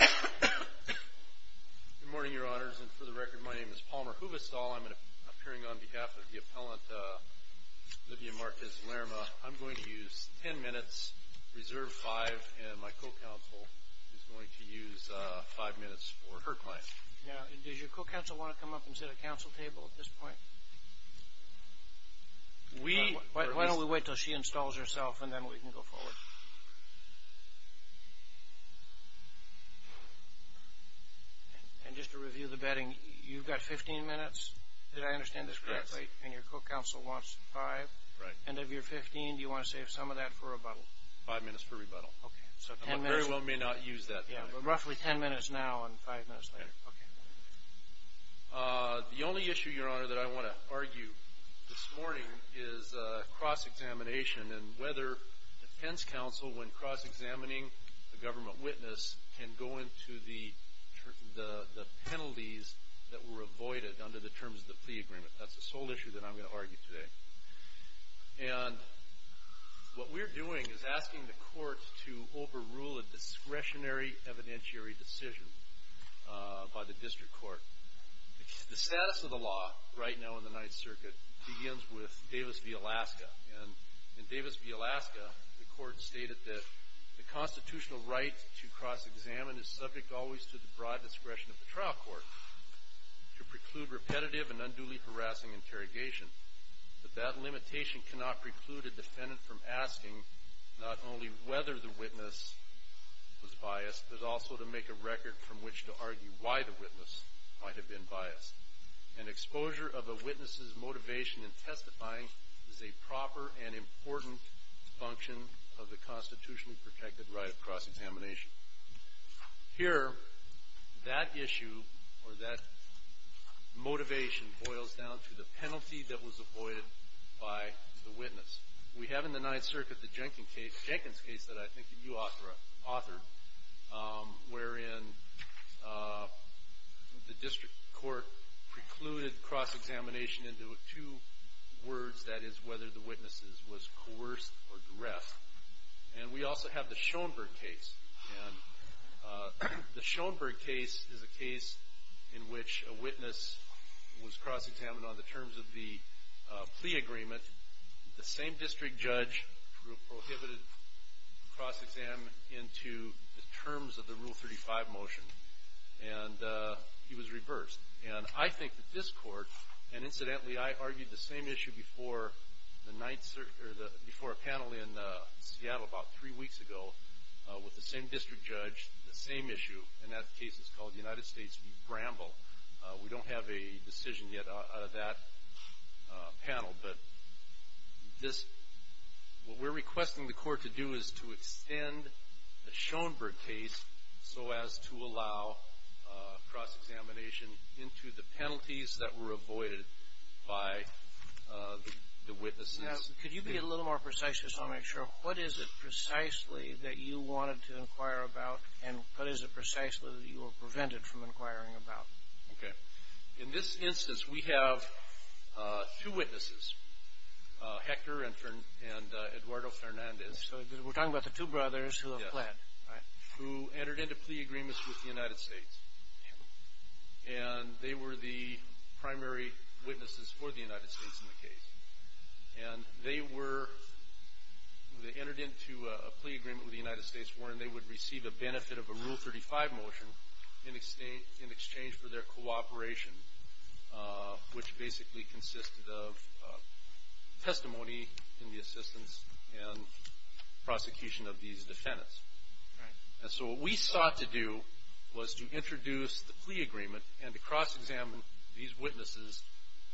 Good morning, your honors, and for the record, my name is Palmer Huvestal. I'm appearing on behalf of the appellant, Livia Marquez-Lerma. I'm going to use ten minutes, reserve five, and my co-counsel is going to use five minutes for her client. Now, does your co-counsel want to come up and set a counsel table at this point? We... Why don't we wait until she installs herself, and then we can go forward. And just to review the betting, you've got fifteen minutes? Did I understand this correctly? And your co-counsel wants five? Right. And of your fifteen, do you want to save some of that for rebuttal? Five minutes for rebuttal. Okay, so ten minutes... I very well may not use that. Yeah, but roughly ten minutes now and five minutes later. Okay. The only issue, your honor, that I want to argue this morning is cross-examination and whether defense counsel, when cross-examining the government witness, can go into the penalties that were avoided under the terms of the plea agreement. That's the sole issue that I'm going to argue today. And what we're doing is asking the court to overrule a discretionary evidentiary decision by the district court. The status of the law right now in the Ninth Circuit begins with Davis v. Alaska. And in Davis v. Alaska, the court stated that the constitutional right to cross-examine is subject always to the broad discretion of the trial court to preclude repetitive and unduly harassing interrogation. But that limitation cannot preclude a defendant from asking not only whether the witness was biased, but also to make a record from which to argue why the witness might have been biased. And exposure of a witness's motivation in testifying is a proper and important function of the constitutionally protected right of cross-examination. Here, that issue or that motivation boils down to the penalty that was avoided by the witness. We have in the Ninth Circuit the Jenkins case that I think you authored, wherein the district court precluded cross-examination into two words, that is, whether the witness was coerced or duressed. And we also have the Schoenberg case. And the Schoenberg case is a case in which a witness was cross-examined on the terms of the plea agreement. The same district judge prohibited cross-examination into the terms of the Rule 35 motion. And he was reversed. And I think that this Court, and incidentally, I argued the same issue before a panel in Seattle about three weeks ago with the same district judge, the same issue, and that case is called the United States v. Bramble. We don't have a decision yet out of that panel. But what we're requesting the Court to do is to extend the Schoenberg case so as to allow cross-examination into the penalties that were avoided by the witnesses. Could you be a little more precise just to make sure? What is it precisely that you wanted to inquire about, and what is it precisely that you were prevented from inquiring about? Okay. In this instance, we have two witnesses, Hector and Eduardo Fernandez. So we're talking about the two brothers who have pled, right? Who entered into plea agreements with the United States. And they were the primary witnesses for the United States in the case. And they were entered into a plea agreement with the United States wherein they would receive a benefit of a Rule 35 motion in exchange for their cooperation, which basically consisted of testimony in the assistance and prosecution of these defendants. Right. And so what we sought to do was to introduce the plea agreement and to cross-examine these witnesses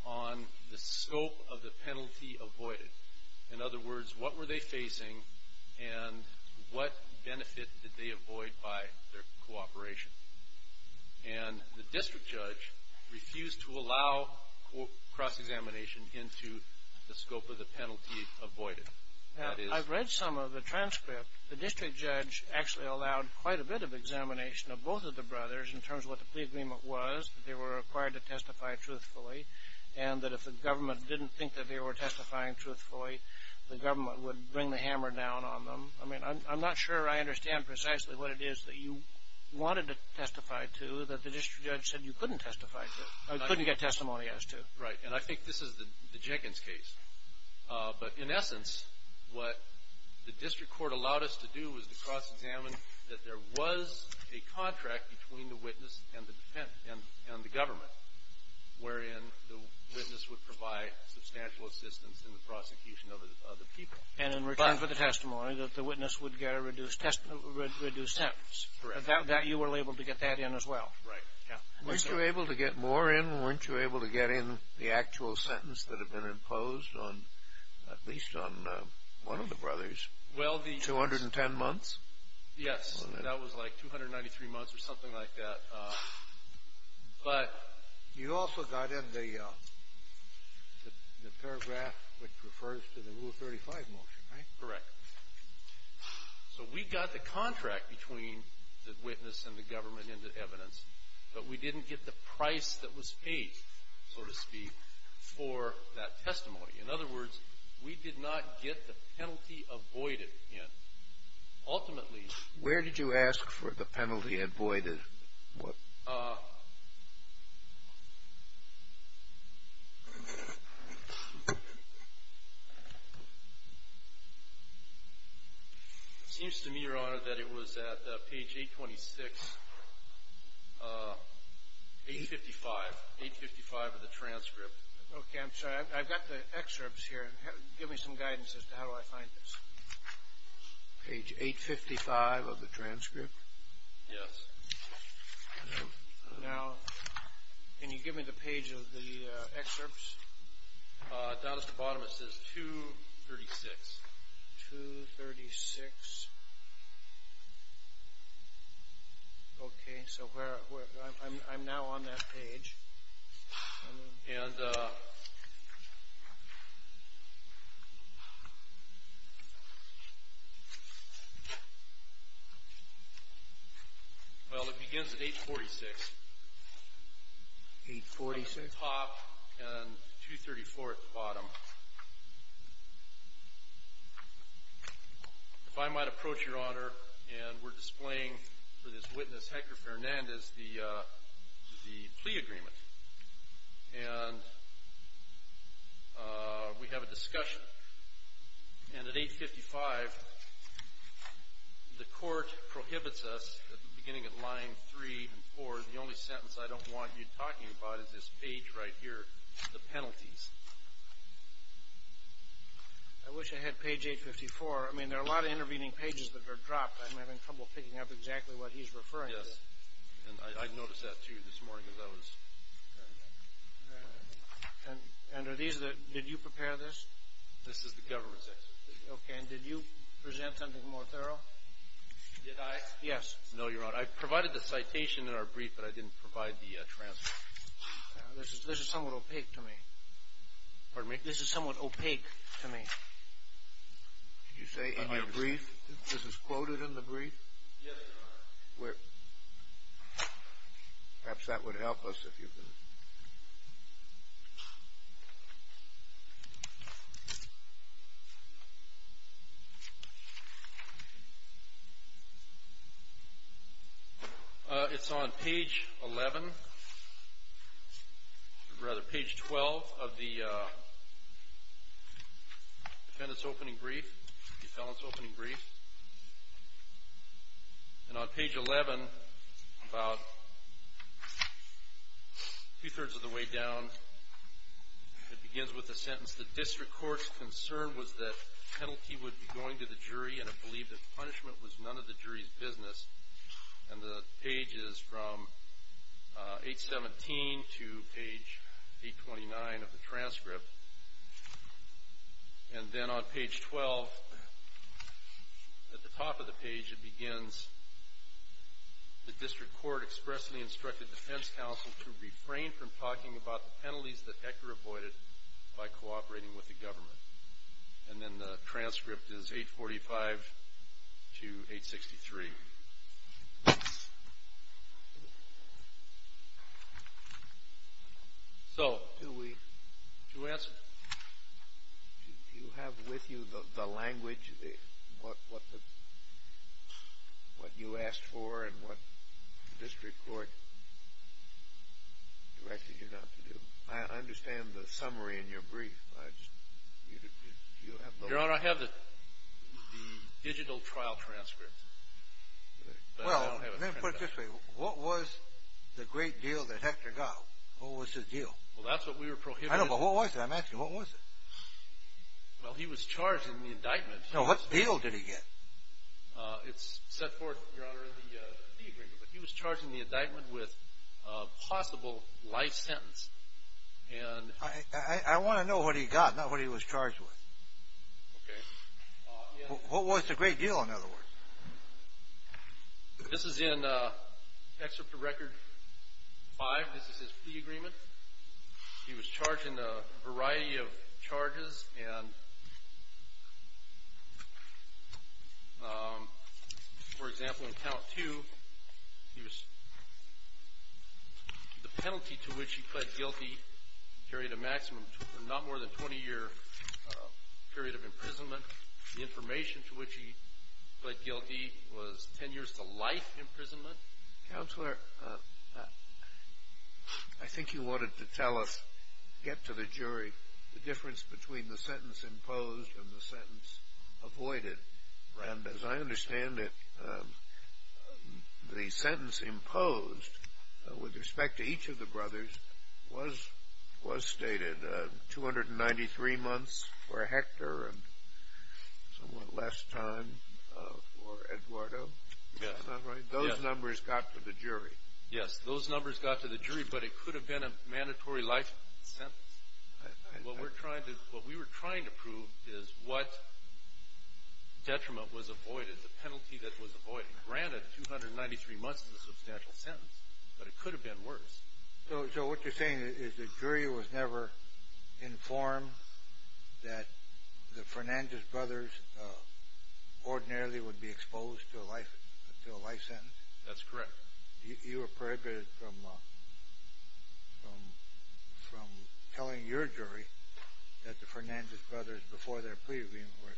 on the scope of the penalty avoided. In other words, what were they facing, and what benefit did they avoid by their cooperation? And the district judge refused to allow cross-examination into the scope of the penalty avoided. I've read some of the transcript. The district judge actually allowed quite a bit of examination of both of the brothers in terms of what the plea agreement was, that they were required to testify truthfully, and that if the government didn't think that they were testifying truthfully, the government would bring the hammer down on them. I mean, I'm not sure I understand precisely what it is that you wanted to testify to that the district judge said you couldn't testify to or couldn't get testimony as to. Right. And I think this is the Jenkins case. But in essence, what the district court allowed us to do was to cross-examine that there was a contract between the witness and the government, wherein the witness would provide substantial assistance in the prosecution of the people. And in return for the testimony, the witness would get a reduced sentence. Correct. You were able to get that in as well. Right. Weren't you able to get more in? Weren't you able to get in the actual sentence that had been imposed on at least on one of the brothers, 210 months? Yes. That was like 293 months or something like that. But you also got in the paragraph which refers to the Rule 35 motion, right? Correct. So we got the contract between the witness and the government in the evidence, but we didn't get the price that was paid, so to speak, for that testimony. In other words, we did not get the penalty avoided in. Ultimately. Where did you ask for the penalty avoided? It seems to me, Your Honor, that it was at page 826, 855, 855 of the transcript. Okay. I'm sorry. I've got the excerpts here. Give me some guidance as to how do I find this. Page 855 of the transcript. Yes. Now, can you give me the page of the excerpts? Down at the bottom it says 236. 236. Okay. So I'm now on that page. I know. Well, it begins at 846. 846. At the top and 234 at the bottom. If I might approach, Your Honor, and we're displaying for this witness, Hector Fernandez, the plea agreement. And we have a discussion. And at 855, the court prohibits us at the beginning of line 3 and 4, the only sentence I don't want you talking about is this page right here, the penalties. I wish I had page 854. I mean, there are a lot of intervening pages that are dropped. I'm having trouble picking up exactly what he's referring to. Yes. And I noticed that, too, this morning as I was. And did you prepare this? This is the government's excerpt. Okay. And did you present something more thorough? Did I? Yes. No, Your Honor. I provided the citation in our brief, but I didn't provide the transcript. This is somewhat opaque to me. Pardon me? This is somewhat opaque to me. Did you say in your brief? This is quoted in the brief? Yes, Your Honor. Perhaps that would help us if you could. It's on page 11 or rather page 12 of the defendant's opening brief, the felon's opening brief. And on page 11, about two-thirds of the way down, it begins with a sentence, the district court's concern was that penalty would be going to the jury and it believed that punishment was none of the jury's business. And the page is from 817 to page 829 of the transcript. And then on page 12, at the top of the page, it begins the district court expressly instructed defense counsel to refrain from talking about the penalties that Hecker avoided by cooperating with the government. And then the transcript is 845 to 863. So do we answer? Do you have with you the language, what you asked for and what the district court directed you not to do? I understand the summary in your brief. Your Honor, I have the digital trial transcript. Well, let me put it this way. What was the great deal that Hecker got? What was his deal? Well, that's what we were prohibited. I know, but what was it? I'm asking, what was it? Well, he was charged in the indictment. No, what deal did he get? It's set forth, Your Honor, in the agreement. But he was charged in the indictment with a possible life sentence. I want to know what he got, not what he was charged with. Okay. What was the great deal, in other words? This is in Excerpt of Record 5. This is his plea agreement. He was charged in a variety of charges. And, for example, in Count 2, the penalty to which he pled guilty carried a maximum of not more than a 20-year period of imprisonment. The information to which he pled guilty was 10 years to life imprisonment. Counselor, I think you wanted to tell us, get to the jury, the difference between the sentence imposed and the sentence avoided. And as I understand it, the sentence imposed with respect to each of the brothers was stated 293 months for Hector and somewhat less time for Eduardo. That's not right. Those numbers got to the jury. Yes, those numbers got to the jury, but it could have been a mandatory life sentence. What we're trying to – what we were trying to prove is what detriment was avoided, the penalty that was avoided. Granted, 293 months is a substantial sentence, but it could have been worse. So what you're saying is the jury was never informed that the Fernandez brothers ordinarily would be exposed to a life sentence? That's correct. You were prohibited from telling your jury that the Fernandez brothers, before their plea agreement, were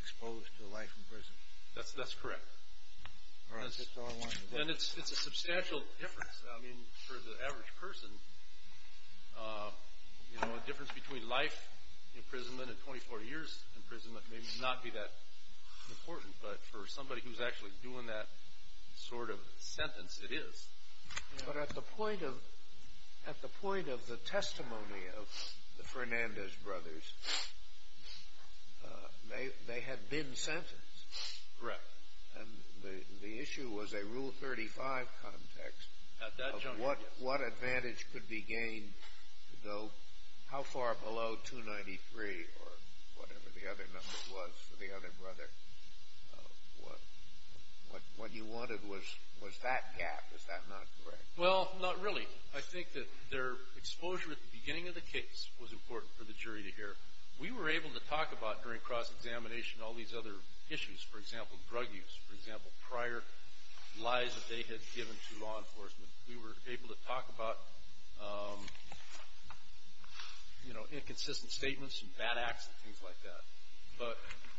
exposed to life in prison? That's correct. And it's a substantial difference. I mean, for the average person, you know, a difference between life imprisonment and 24 years imprisonment may not be that important, but for somebody who's actually doing that sort of sentence, it is. But at the point of the testimony of the Fernandez brothers, they had been sentenced. Correct. And the issue was a Rule 35 context. At that juncture. What advantage could be gained to go how far below 293 or whatever the other number was for the other brother? What you wanted was that gap. Is that not correct? Well, not really. I think that their exposure at the beginning of the case was important for the jury to hear. We were able to talk about during cross-examination all these other issues. For example, drug use. For example, prior lies that they had given to law enforcement. We were able to talk about, you know, inconsistent statements and bad acts and things like that. But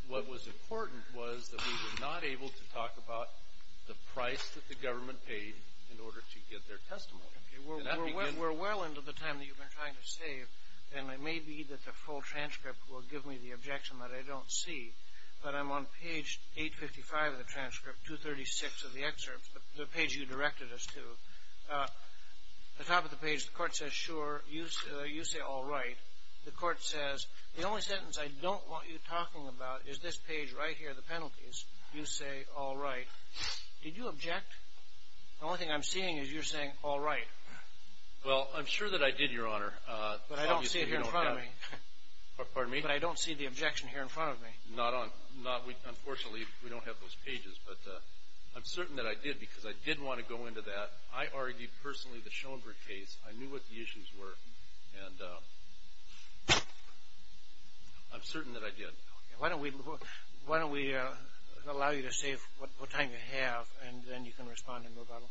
what was important was that we were not able to talk about the price that the government paid in order to get their testimony. We're well into the time that you've been trying to save, and it may be that the full transcript will give me the objection that I don't see. But I'm on page 855 of the transcript, 236 of the excerpt, the page you directed us to. At the top of the page, the court says, sure, you say all right. The court says, the only sentence I don't want you talking about is this page right here, the penalties. You say all right. Did you object? The only thing I'm seeing is you're saying all right. Well, I'm sure that I did, Your Honor. But I don't see it here in front of me. Pardon me? But I don't see the objection here in front of me. Unfortunately, we don't have those pages. But I'm certain that I did because I did want to go into that. I argued personally the Schoenberg case. I knew what the issues were, and I'm certain that I did. Why don't we allow you to say what time you have, and then you can respond and move on.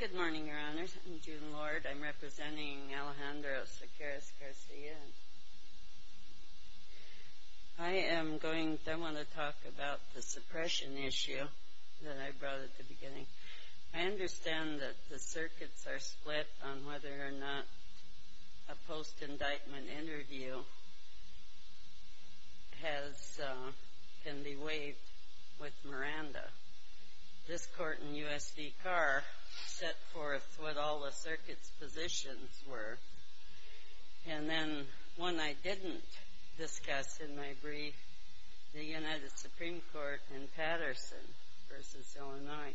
Good morning, Your Honors. I'm June Lord. I'm representing Alejandro Sequeiros-Garcia. I want to talk about the suppression issue that I brought at the beginning. I understand that the circuits are split on whether or not a post-indictment interview can be waived with Miranda. This court in U.S. v. Carr set forth what all the circuits' positions were. And then one I didn't discuss in my brief, the United Supreme Court in Patterson v. Illinois,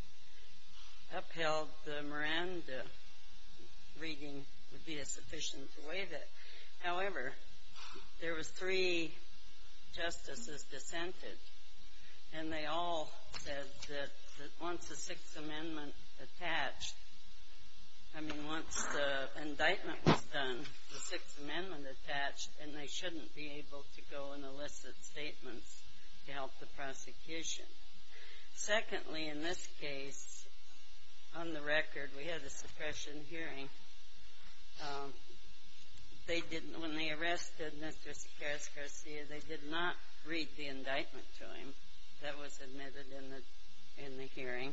upheld the Miranda reading would be a sufficient way to waive it. And they all said that once the Sixth Amendment attached, I mean, once the indictment was done, the Sixth Amendment attached, and they shouldn't be able to go and elicit statements to help the prosecution. Secondly, in this case, on the record, we had a suppression hearing. When they arrested Mr. Sequeiros-Garcia, they did not read the indictment to him that was admitted in the hearing.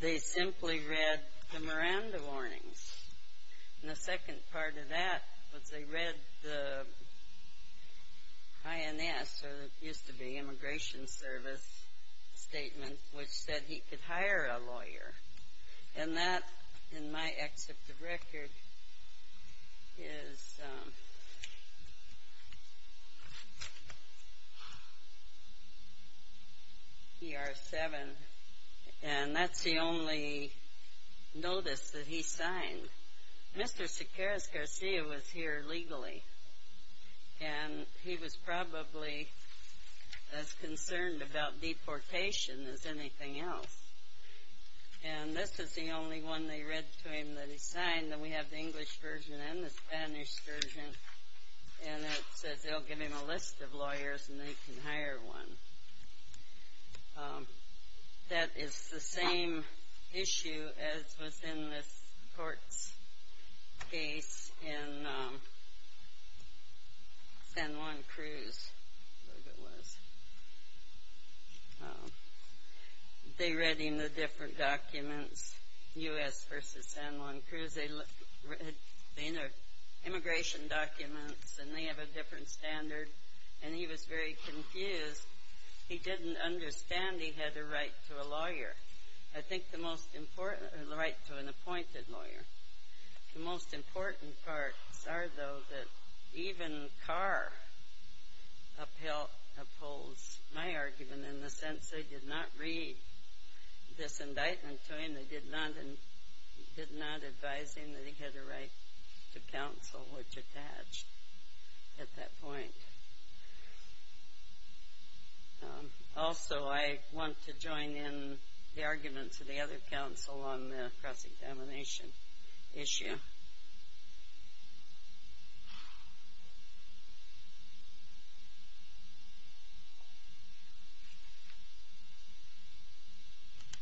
They simply read the Miranda warnings. And the second part of that was they read the INS, or it used to be Immigration Service statement, and that, in my excerpt of record, is E.R. 7, and that's the only notice that he signed. Mr. Sequeiros-Garcia was here legally, and he was probably as concerned about deportation as anything else. And this is the only one they read to him that he signed, and we have the English version and the Spanish version, and it says they'll give him a list of lawyers and they can hire one. That is the same issue as was in this court's case in San Juan Cruz, I think it was. They read him the different documents, U.S. v. San Juan Cruz. They read the immigration documents, and they have a different standard, and he was very confused. He didn't understand he had a right to a lawyer, I think the most important, or the right to an appointed lawyer. The most important parts are, though, that even Carr upholds my argument in the sense they did not read this indictment to him. They did not advise him that he had a right to counsel, which attached at that point. Also, I want to join in the arguments of the other counsel on the cross-examination issue.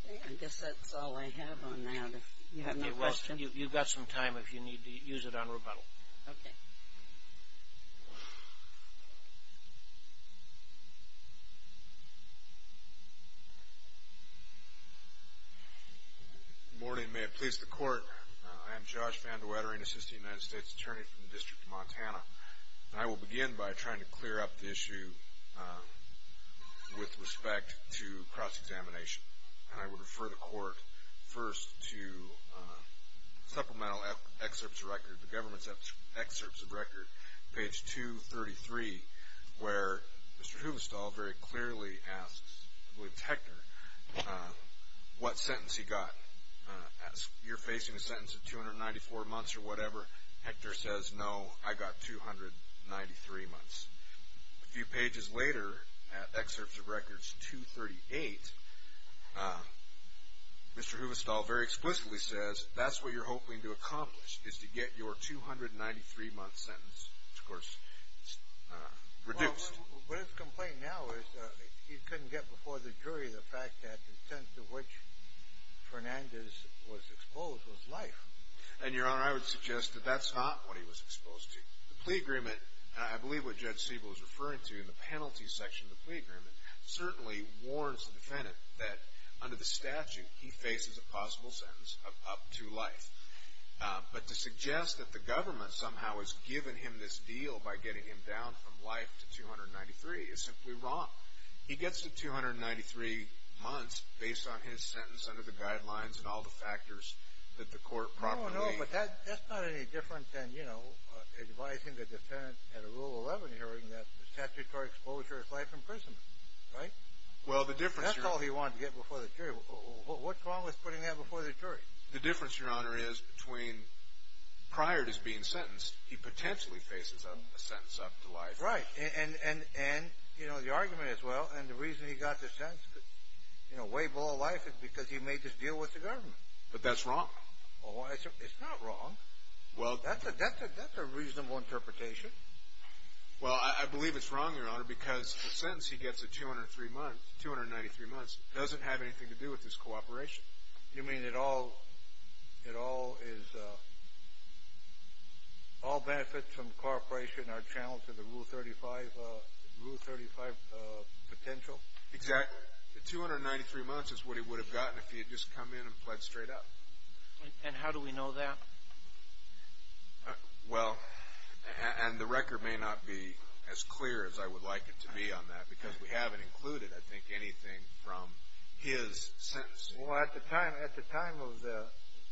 I guess that's all I have on that, if you have no questions. You've got some time if you need to use it on rebuttal. Okay. Good morning. May it please the Court, I am Josh Van De Wettering, Assistant United States Attorney from the District of Montana. I will begin by trying to clear up the issue with respect to cross-examination. And I would refer the Court first to supplemental excerpts of record, the government's excerpts of record, page 233, where Mr. Hubestall very clearly asks, I believe it's Hector, what sentence he got. You're facing a sentence of 294 months or whatever. Hector says, no, I got 293 months. A few pages later, at excerpts of records 238, Mr. Hubestall very explicitly says, that's what you're hoping to accomplish is to get your 293-month sentence, which of course is reduced. Well, but his complaint now is he couldn't get before the jury the fact that the sentence to which Fernandez was exposed was life. And, Your Honor, I would suggest that that's not what he was exposed to. The plea agreement, and I believe what Judge Siebel is referring to in the penalty section of the plea agreement, certainly warns the defendant that under the statute he faces a possible sentence of up to life. But to suggest that the government somehow has given him this deal by getting him down from life to 293 is simply wrong. He gets to 293 months based on his sentence under the guidelines and all the factors that the Court properly made. But that's not any different than, you know, advising the defendant at a Rule 11 hearing that the statutory exposure is life imprisonment. Right? That's all he wanted to get before the jury. What's wrong with putting that before the jury? The difference, Your Honor, is between prior to his being sentenced, he potentially faces a sentence up to life. Right. And, you know, the argument as well, and the reason he got the sentence way below life is because he made this deal with the government. But that's wrong. Oh, it's not wrong. That's a reasonable interpretation. Well, I believe it's wrong, Your Honor, because the sentence he gets at 293 months doesn't have anything to do with his cooperation. You mean it all benefits from cooperation are challenged to the Rule 35 potential? Exactly. But the 293 months is what he would have gotten if he had just come in and pled straight up. And how do we know that? Well, and the record may not be as clear as I would like it to be on that because we haven't included, I think, anything from his sentence. Well, at the time of the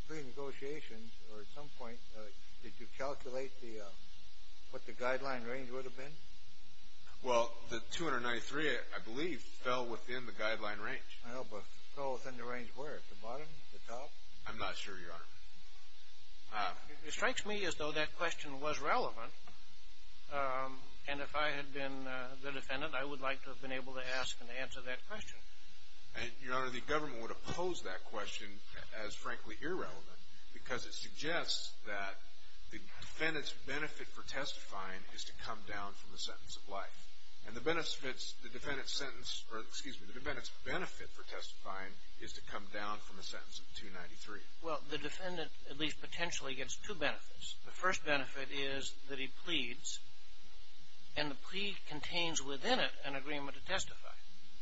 pre-negotiations or at some point, did you calculate what the guideline range would have been? Well, the 293, I believe, fell within the guideline range. Well, but it fell within the range where? At the bottom? At the top? I'm not sure, Your Honor. It strikes me as though that question was relevant, and if I had been the defendant, I would like to have been able to ask and answer that question. And, Your Honor, the government would oppose that question as, frankly, irrelevant because it suggests that the defendant's benefit for testifying is to come down from the sentence of life. And the defendant's benefit for testifying is to come down from a sentence of 293. Well, the defendant, at least potentially, gets two benefits. The first benefit is that he pleads, and the plea contains within it an agreement to testify.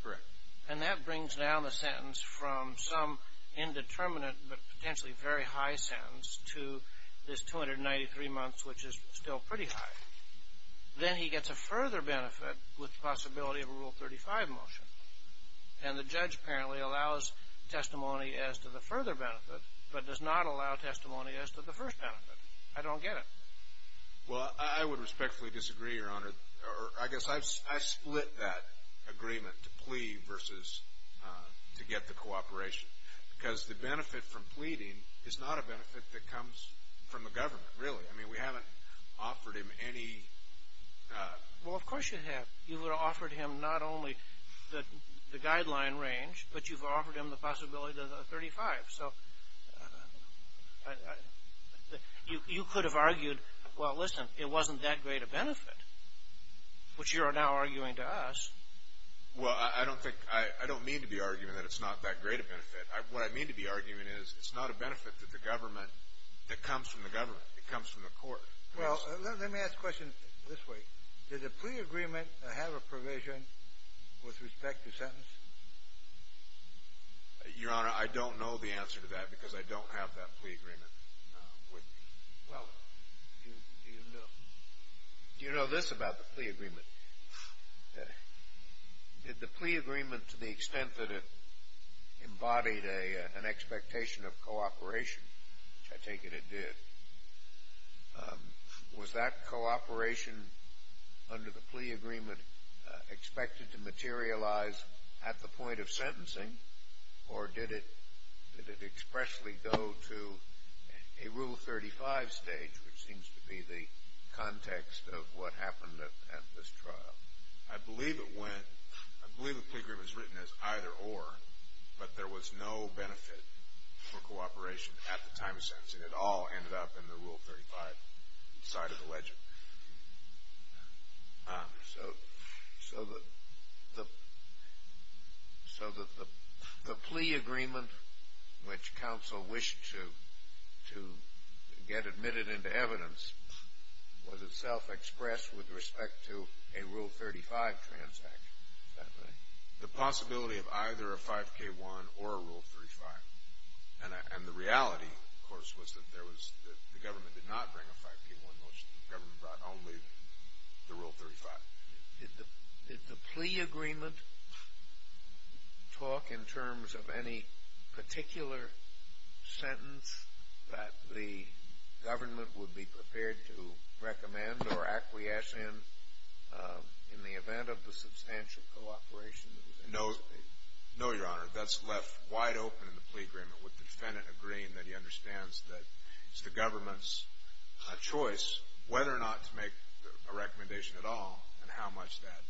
Correct. And that brings down the sentence from some indeterminate but potentially very high sentence to this 293 months, which is still pretty high. Then he gets a further benefit with the possibility of a Rule 35 motion. And the judge apparently allows testimony as to the further benefit but does not allow testimony as to the first benefit. I don't get it. Well, I would respectfully disagree, Your Honor. I guess I split that agreement to plea versus to get the cooperation because the benefit from pleading is not a benefit that comes from the government, really. I mean, we haven't offered him any. Well, of course you have. You've offered him not only the guideline range, but you've offered him the possibility of the 35. So you could have argued, well, listen, it wasn't that great a benefit, which you are now arguing to us. Well, I don't think – I don't mean to be arguing that it's not that great a benefit. What I mean to be arguing is it's not a benefit to the government that comes from the government. It comes from the court. Well, let me ask a question this way. Does a plea agreement have a provision with respect to sentence? Your Honor, I don't know the answer to that because I don't have that plea agreement with me. Well, do you know this about the plea agreement? Did the plea agreement, to the extent that it embodied an expectation of cooperation, which I take it it did, was that cooperation under the plea agreement expected to materialize at the point of sentencing, or did it expressly go to a Rule 35 stage, which seems to be the context of what happened at this trial? I believe it went – I believe the plea agreement was written as either or, but there was no benefit for cooperation at the time of sentencing. It all ended up in the Rule 35 side of the legend. So the plea agreement, which counsel wished to get admitted into evidence, was itself expressed with respect to a Rule 35 transaction, is that right? The possibility of either a 5K1 or a Rule 35. And the reality, of course, was that there was – the government did not bring a 5K1 motion. The government brought only the Rule 35. Did the plea agreement talk in terms of any particular sentence that the government would be prepared to recommend or acquiesce in in the event of the substantial cooperation? No, Your Honor. That's left wide open in the plea agreement with the defendant agreeing that he understands that it's the government's choice whether or not to make a recommendation at all and how much that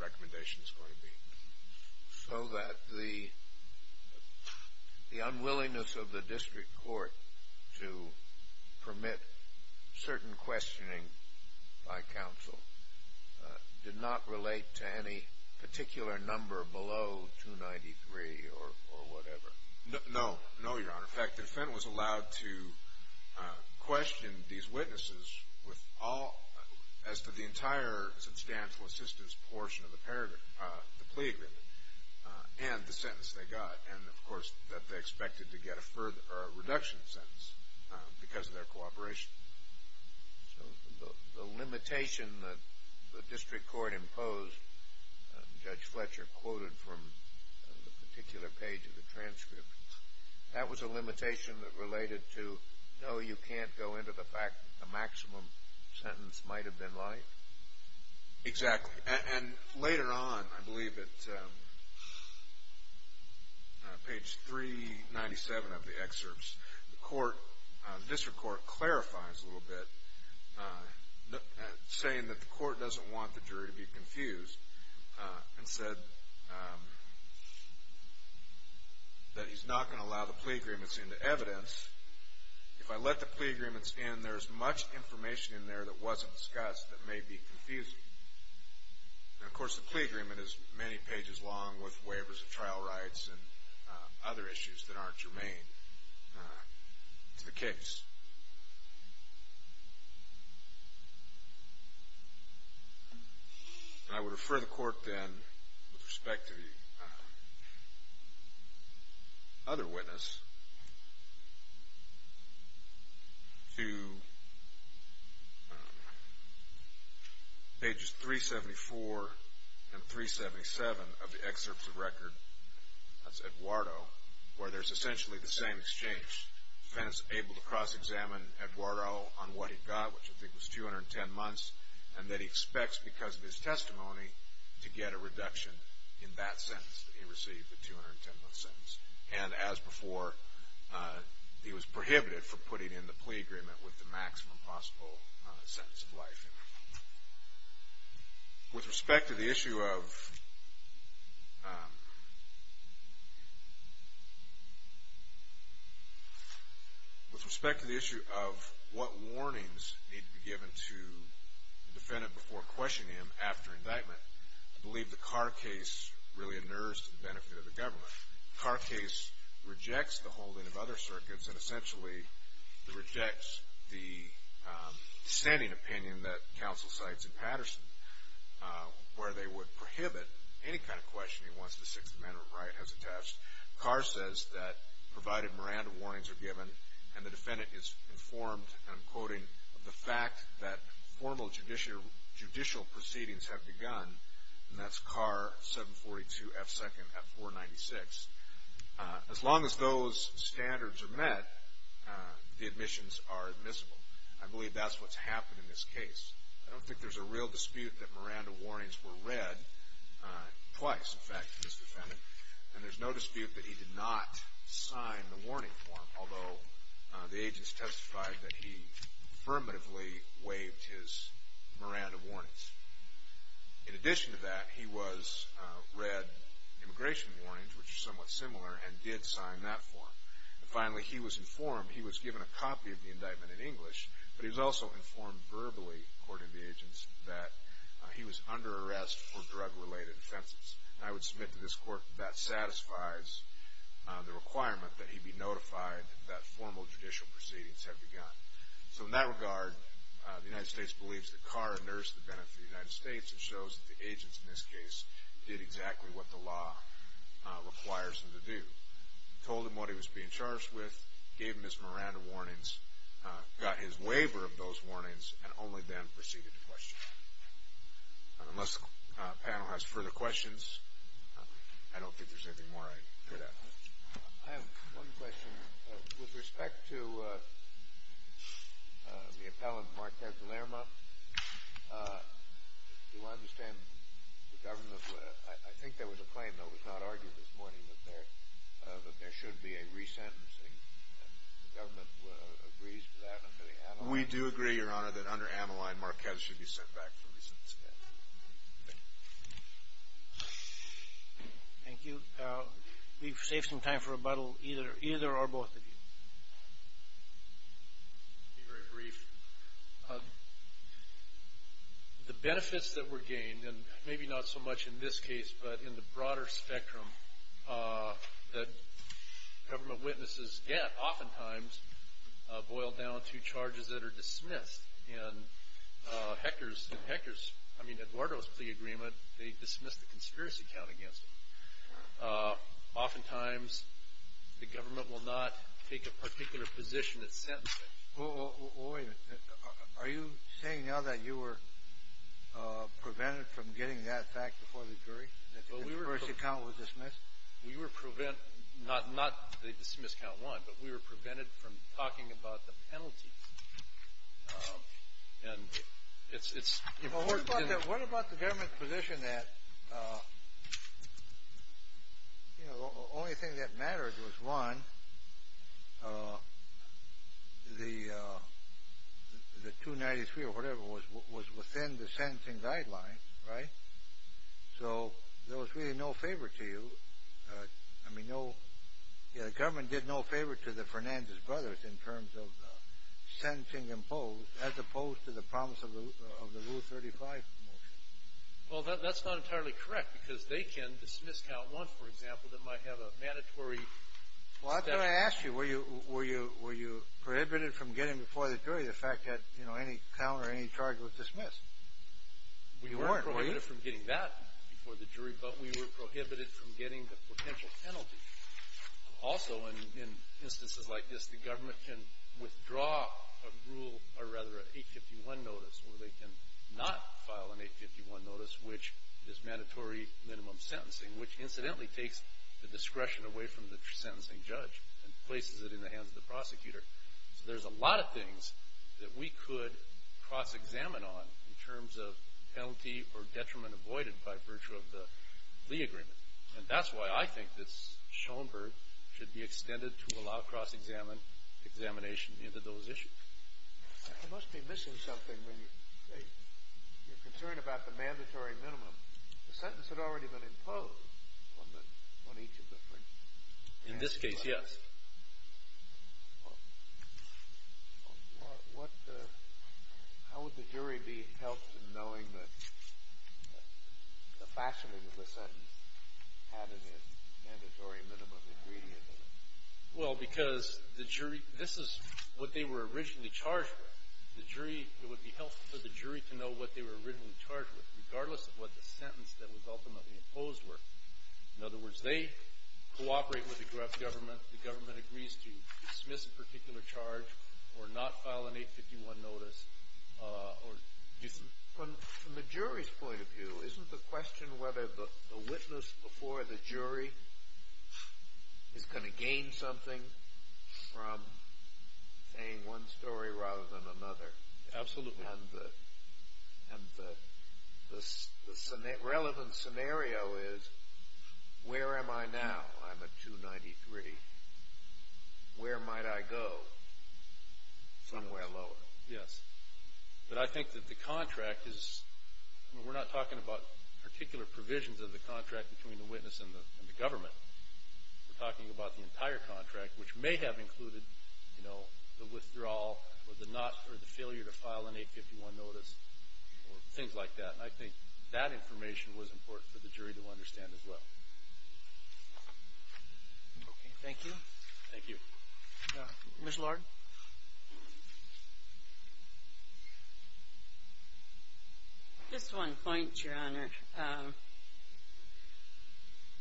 recommendation is going to be. So that the unwillingness of the district court to permit certain questioning by counsel did not relate to any particular number below 293 or whatever? No. No, Your Honor. In fact, the defendant was allowed to question these witnesses with all – as to the entire substantial assistance portion of the plea agreement and the sentence they got. And, of course, that they expected to get a further – or a reduction in sentence because of their cooperation. So the limitation that the district court imposed, Judge Fletcher quoted from the particular page of the transcript, that was a limitation that related to, no, you can't go into the fact that the maximum sentence might have been light? Exactly. And later on, I believe at page 397 of the excerpts, the court – the district court clarifies a little bit, saying that the court doesn't want the jury to be confused and said that he's not going to allow the plea agreements into evidence. If I let the plea agreements in, there's much information in there that wasn't discussed that may be confusing. And, of course, the plea agreement is many pages long with waivers of trial rights and other issues that aren't germane to the case. And I would refer the court then, with respect to the other witness, to pages 374 and 377 of the excerpts of record. That's Eduardo, where there's essentially the same exchange. The defense is able to cross-examine Eduardo on what he got, which I think was 210 months, and that he expects, because of his testimony, to get a reduction in that sentence that he received, the 210-month sentence. And, as before, he was prohibited from putting in the plea agreement with the maximum possible sentence of life. With respect to the issue of what warnings need to be given to the defendant before questioning him after indictment, I believe the Carr case really inures to the benefit of the government. Carr case rejects the holding of other circuits, and essentially rejects the standing opinion that counsel cites in Patterson, where they would prohibit any kind of questioning once the Sixth Amendment right has attached. Carr says that, provided Miranda warnings are given, and the defendant is informed, and I'm quoting, that formal judicial proceedings have begun, and that's Carr 742 F. 2nd at 496. As long as those standards are met, the admissions are admissible. I believe that's what's happened in this case. I don't think there's a real dispute that Miranda warnings were read twice, in fact, to this defendant, and there's no dispute that he did not sign the warning form, although the agents testified that he affirmatively waived his Miranda warnings. In addition to that, he read immigration warnings, which are somewhat similar, and did sign that form. Finally, he was informed, he was given a copy of the indictment in English, but he was also informed verbally, according to the agents, that he was under arrest for drug-related offenses. I would submit to this court that that satisfies the requirement that he be notified that formal judicial proceedings have begun. So in that regard, the United States believes that Carr nursed the benefit of the United States and shows that the agents in this case did exactly what the law requires them to do, told him what he was being charged with, gave him his Miranda warnings, got his waiver of those warnings, and only then proceeded to question him. Unless the panel has further questions, I don't think there's anything more I could add. I have one question. With respect to the appellant Marquez-Lerma, do I understand the government? I think there was a claim, though it was not argued this morning, that there should be a resentencing, and the government agrees to that under the Ameline? Marquez should be sent back for resentencing. Thank you. We've saved some time for rebuttal, either or both of you. I'll be very brief. The benefits that were gained, and maybe not so much in this case, but in the broader spectrum, that government witnesses get oftentimes boil down to charges that are dismissed. And Hector's, I mean, Eduardo's plea agreement, they dismissed the conspiracy count against him. Oftentimes the government will not take a particular position at sentencing. Wait a minute. Are you saying now that you were prevented from getting that fact before the jury, that the conspiracy count was dismissed? Not that they dismissed count one, but we were prevented from talking about the penalty. What about the government's position that the only thing that mattered was, one, the 293 or whatever was within the sentencing guidelines, right? So there was really no favor to you. I mean, the government did no favor to the Fernandez brothers in terms of sentencing imposed, as opposed to the promise of the Rule 35 motion. Well, that's not entirely correct, because they can dismiss count one, for example, that might have a mandatory statute. Well, I thought I asked you, were you prohibited from getting before the jury the fact that, you know, any count or any charge was dismissed? You weren't, were you? We weren't prohibited from getting that before the jury, but we were prohibited from getting the potential penalty. Also, in instances like this, the government can withdraw a rule, or rather an 851 notice, or they can not file an 851 notice, which is mandatory minimum sentencing, which incidentally takes the discretion away from the sentencing judge and places it in the hands of the prosecutor. So there's a lot of things that we could cross-examine on in terms of penalty or detriment avoided by virtue of the Lee Agreement. And that's why I think that Schoenberg should be extended to allow cross-examination into those issues. You must be missing something when you're concerned about the mandatory minimum. The sentence had already been imposed on each of the parties. In this case, yes. Well, how would the jury be helped in knowing that the fashioning of the sentence had a mandatory minimum ingredient in it? Well, because the jury, this is what they were originally charged with. The jury, it would be helpful for the jury to know what they were originally charged with, regardless of what the sentence that was ultimately imposed were. In other words, they cooperate with the government. The government agrees to dismiss a particular charge or not file an 851 notice. From the jury's point of view, isn't the question whether the witness before the jury is going to gain something from saying one story rather than another? Absolutely. And the relevant scenario is, where am I now? I'm at 293. Where might I go? Somewhere lower. Yes. But I think that the contract is, we're not talking about particular provisions of the contract between the witness and the government. The withdrawal or the failure to file an 851 notice or things like that. And I think that information was important for the jury to understand as well. Okay. Thank you. Thank you. Ms. Lord? Just one point, Your Honor.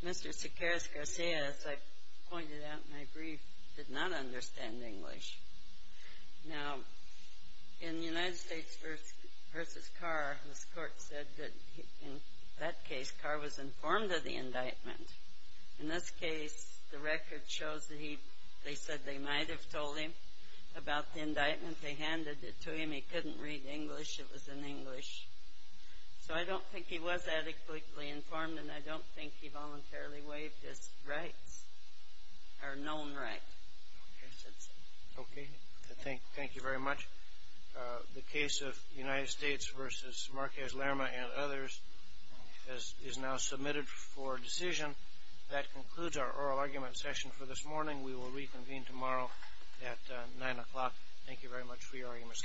Mr. Sequeiros-Garcia, as I pointed out in my brief, did not understand English. Now, in the United States versus Carr, this court said that in that case, Carr was informed of the indictment. In this case, the record shows that they said they might have told him about the indictment. They handed it to him. He couldn't read English. It was in English. So I don't think he was adequately informed, and I don't think he voluntarily waived his rights or known rights. Okay. Thank you very much. The case of United States versus Marquez-Lerma and others is now submitted for decision. That concludes our oral argument session for this morning. We will reconvene tomorrow at 9 o'clock. Thank you very much for your arguments, counsel.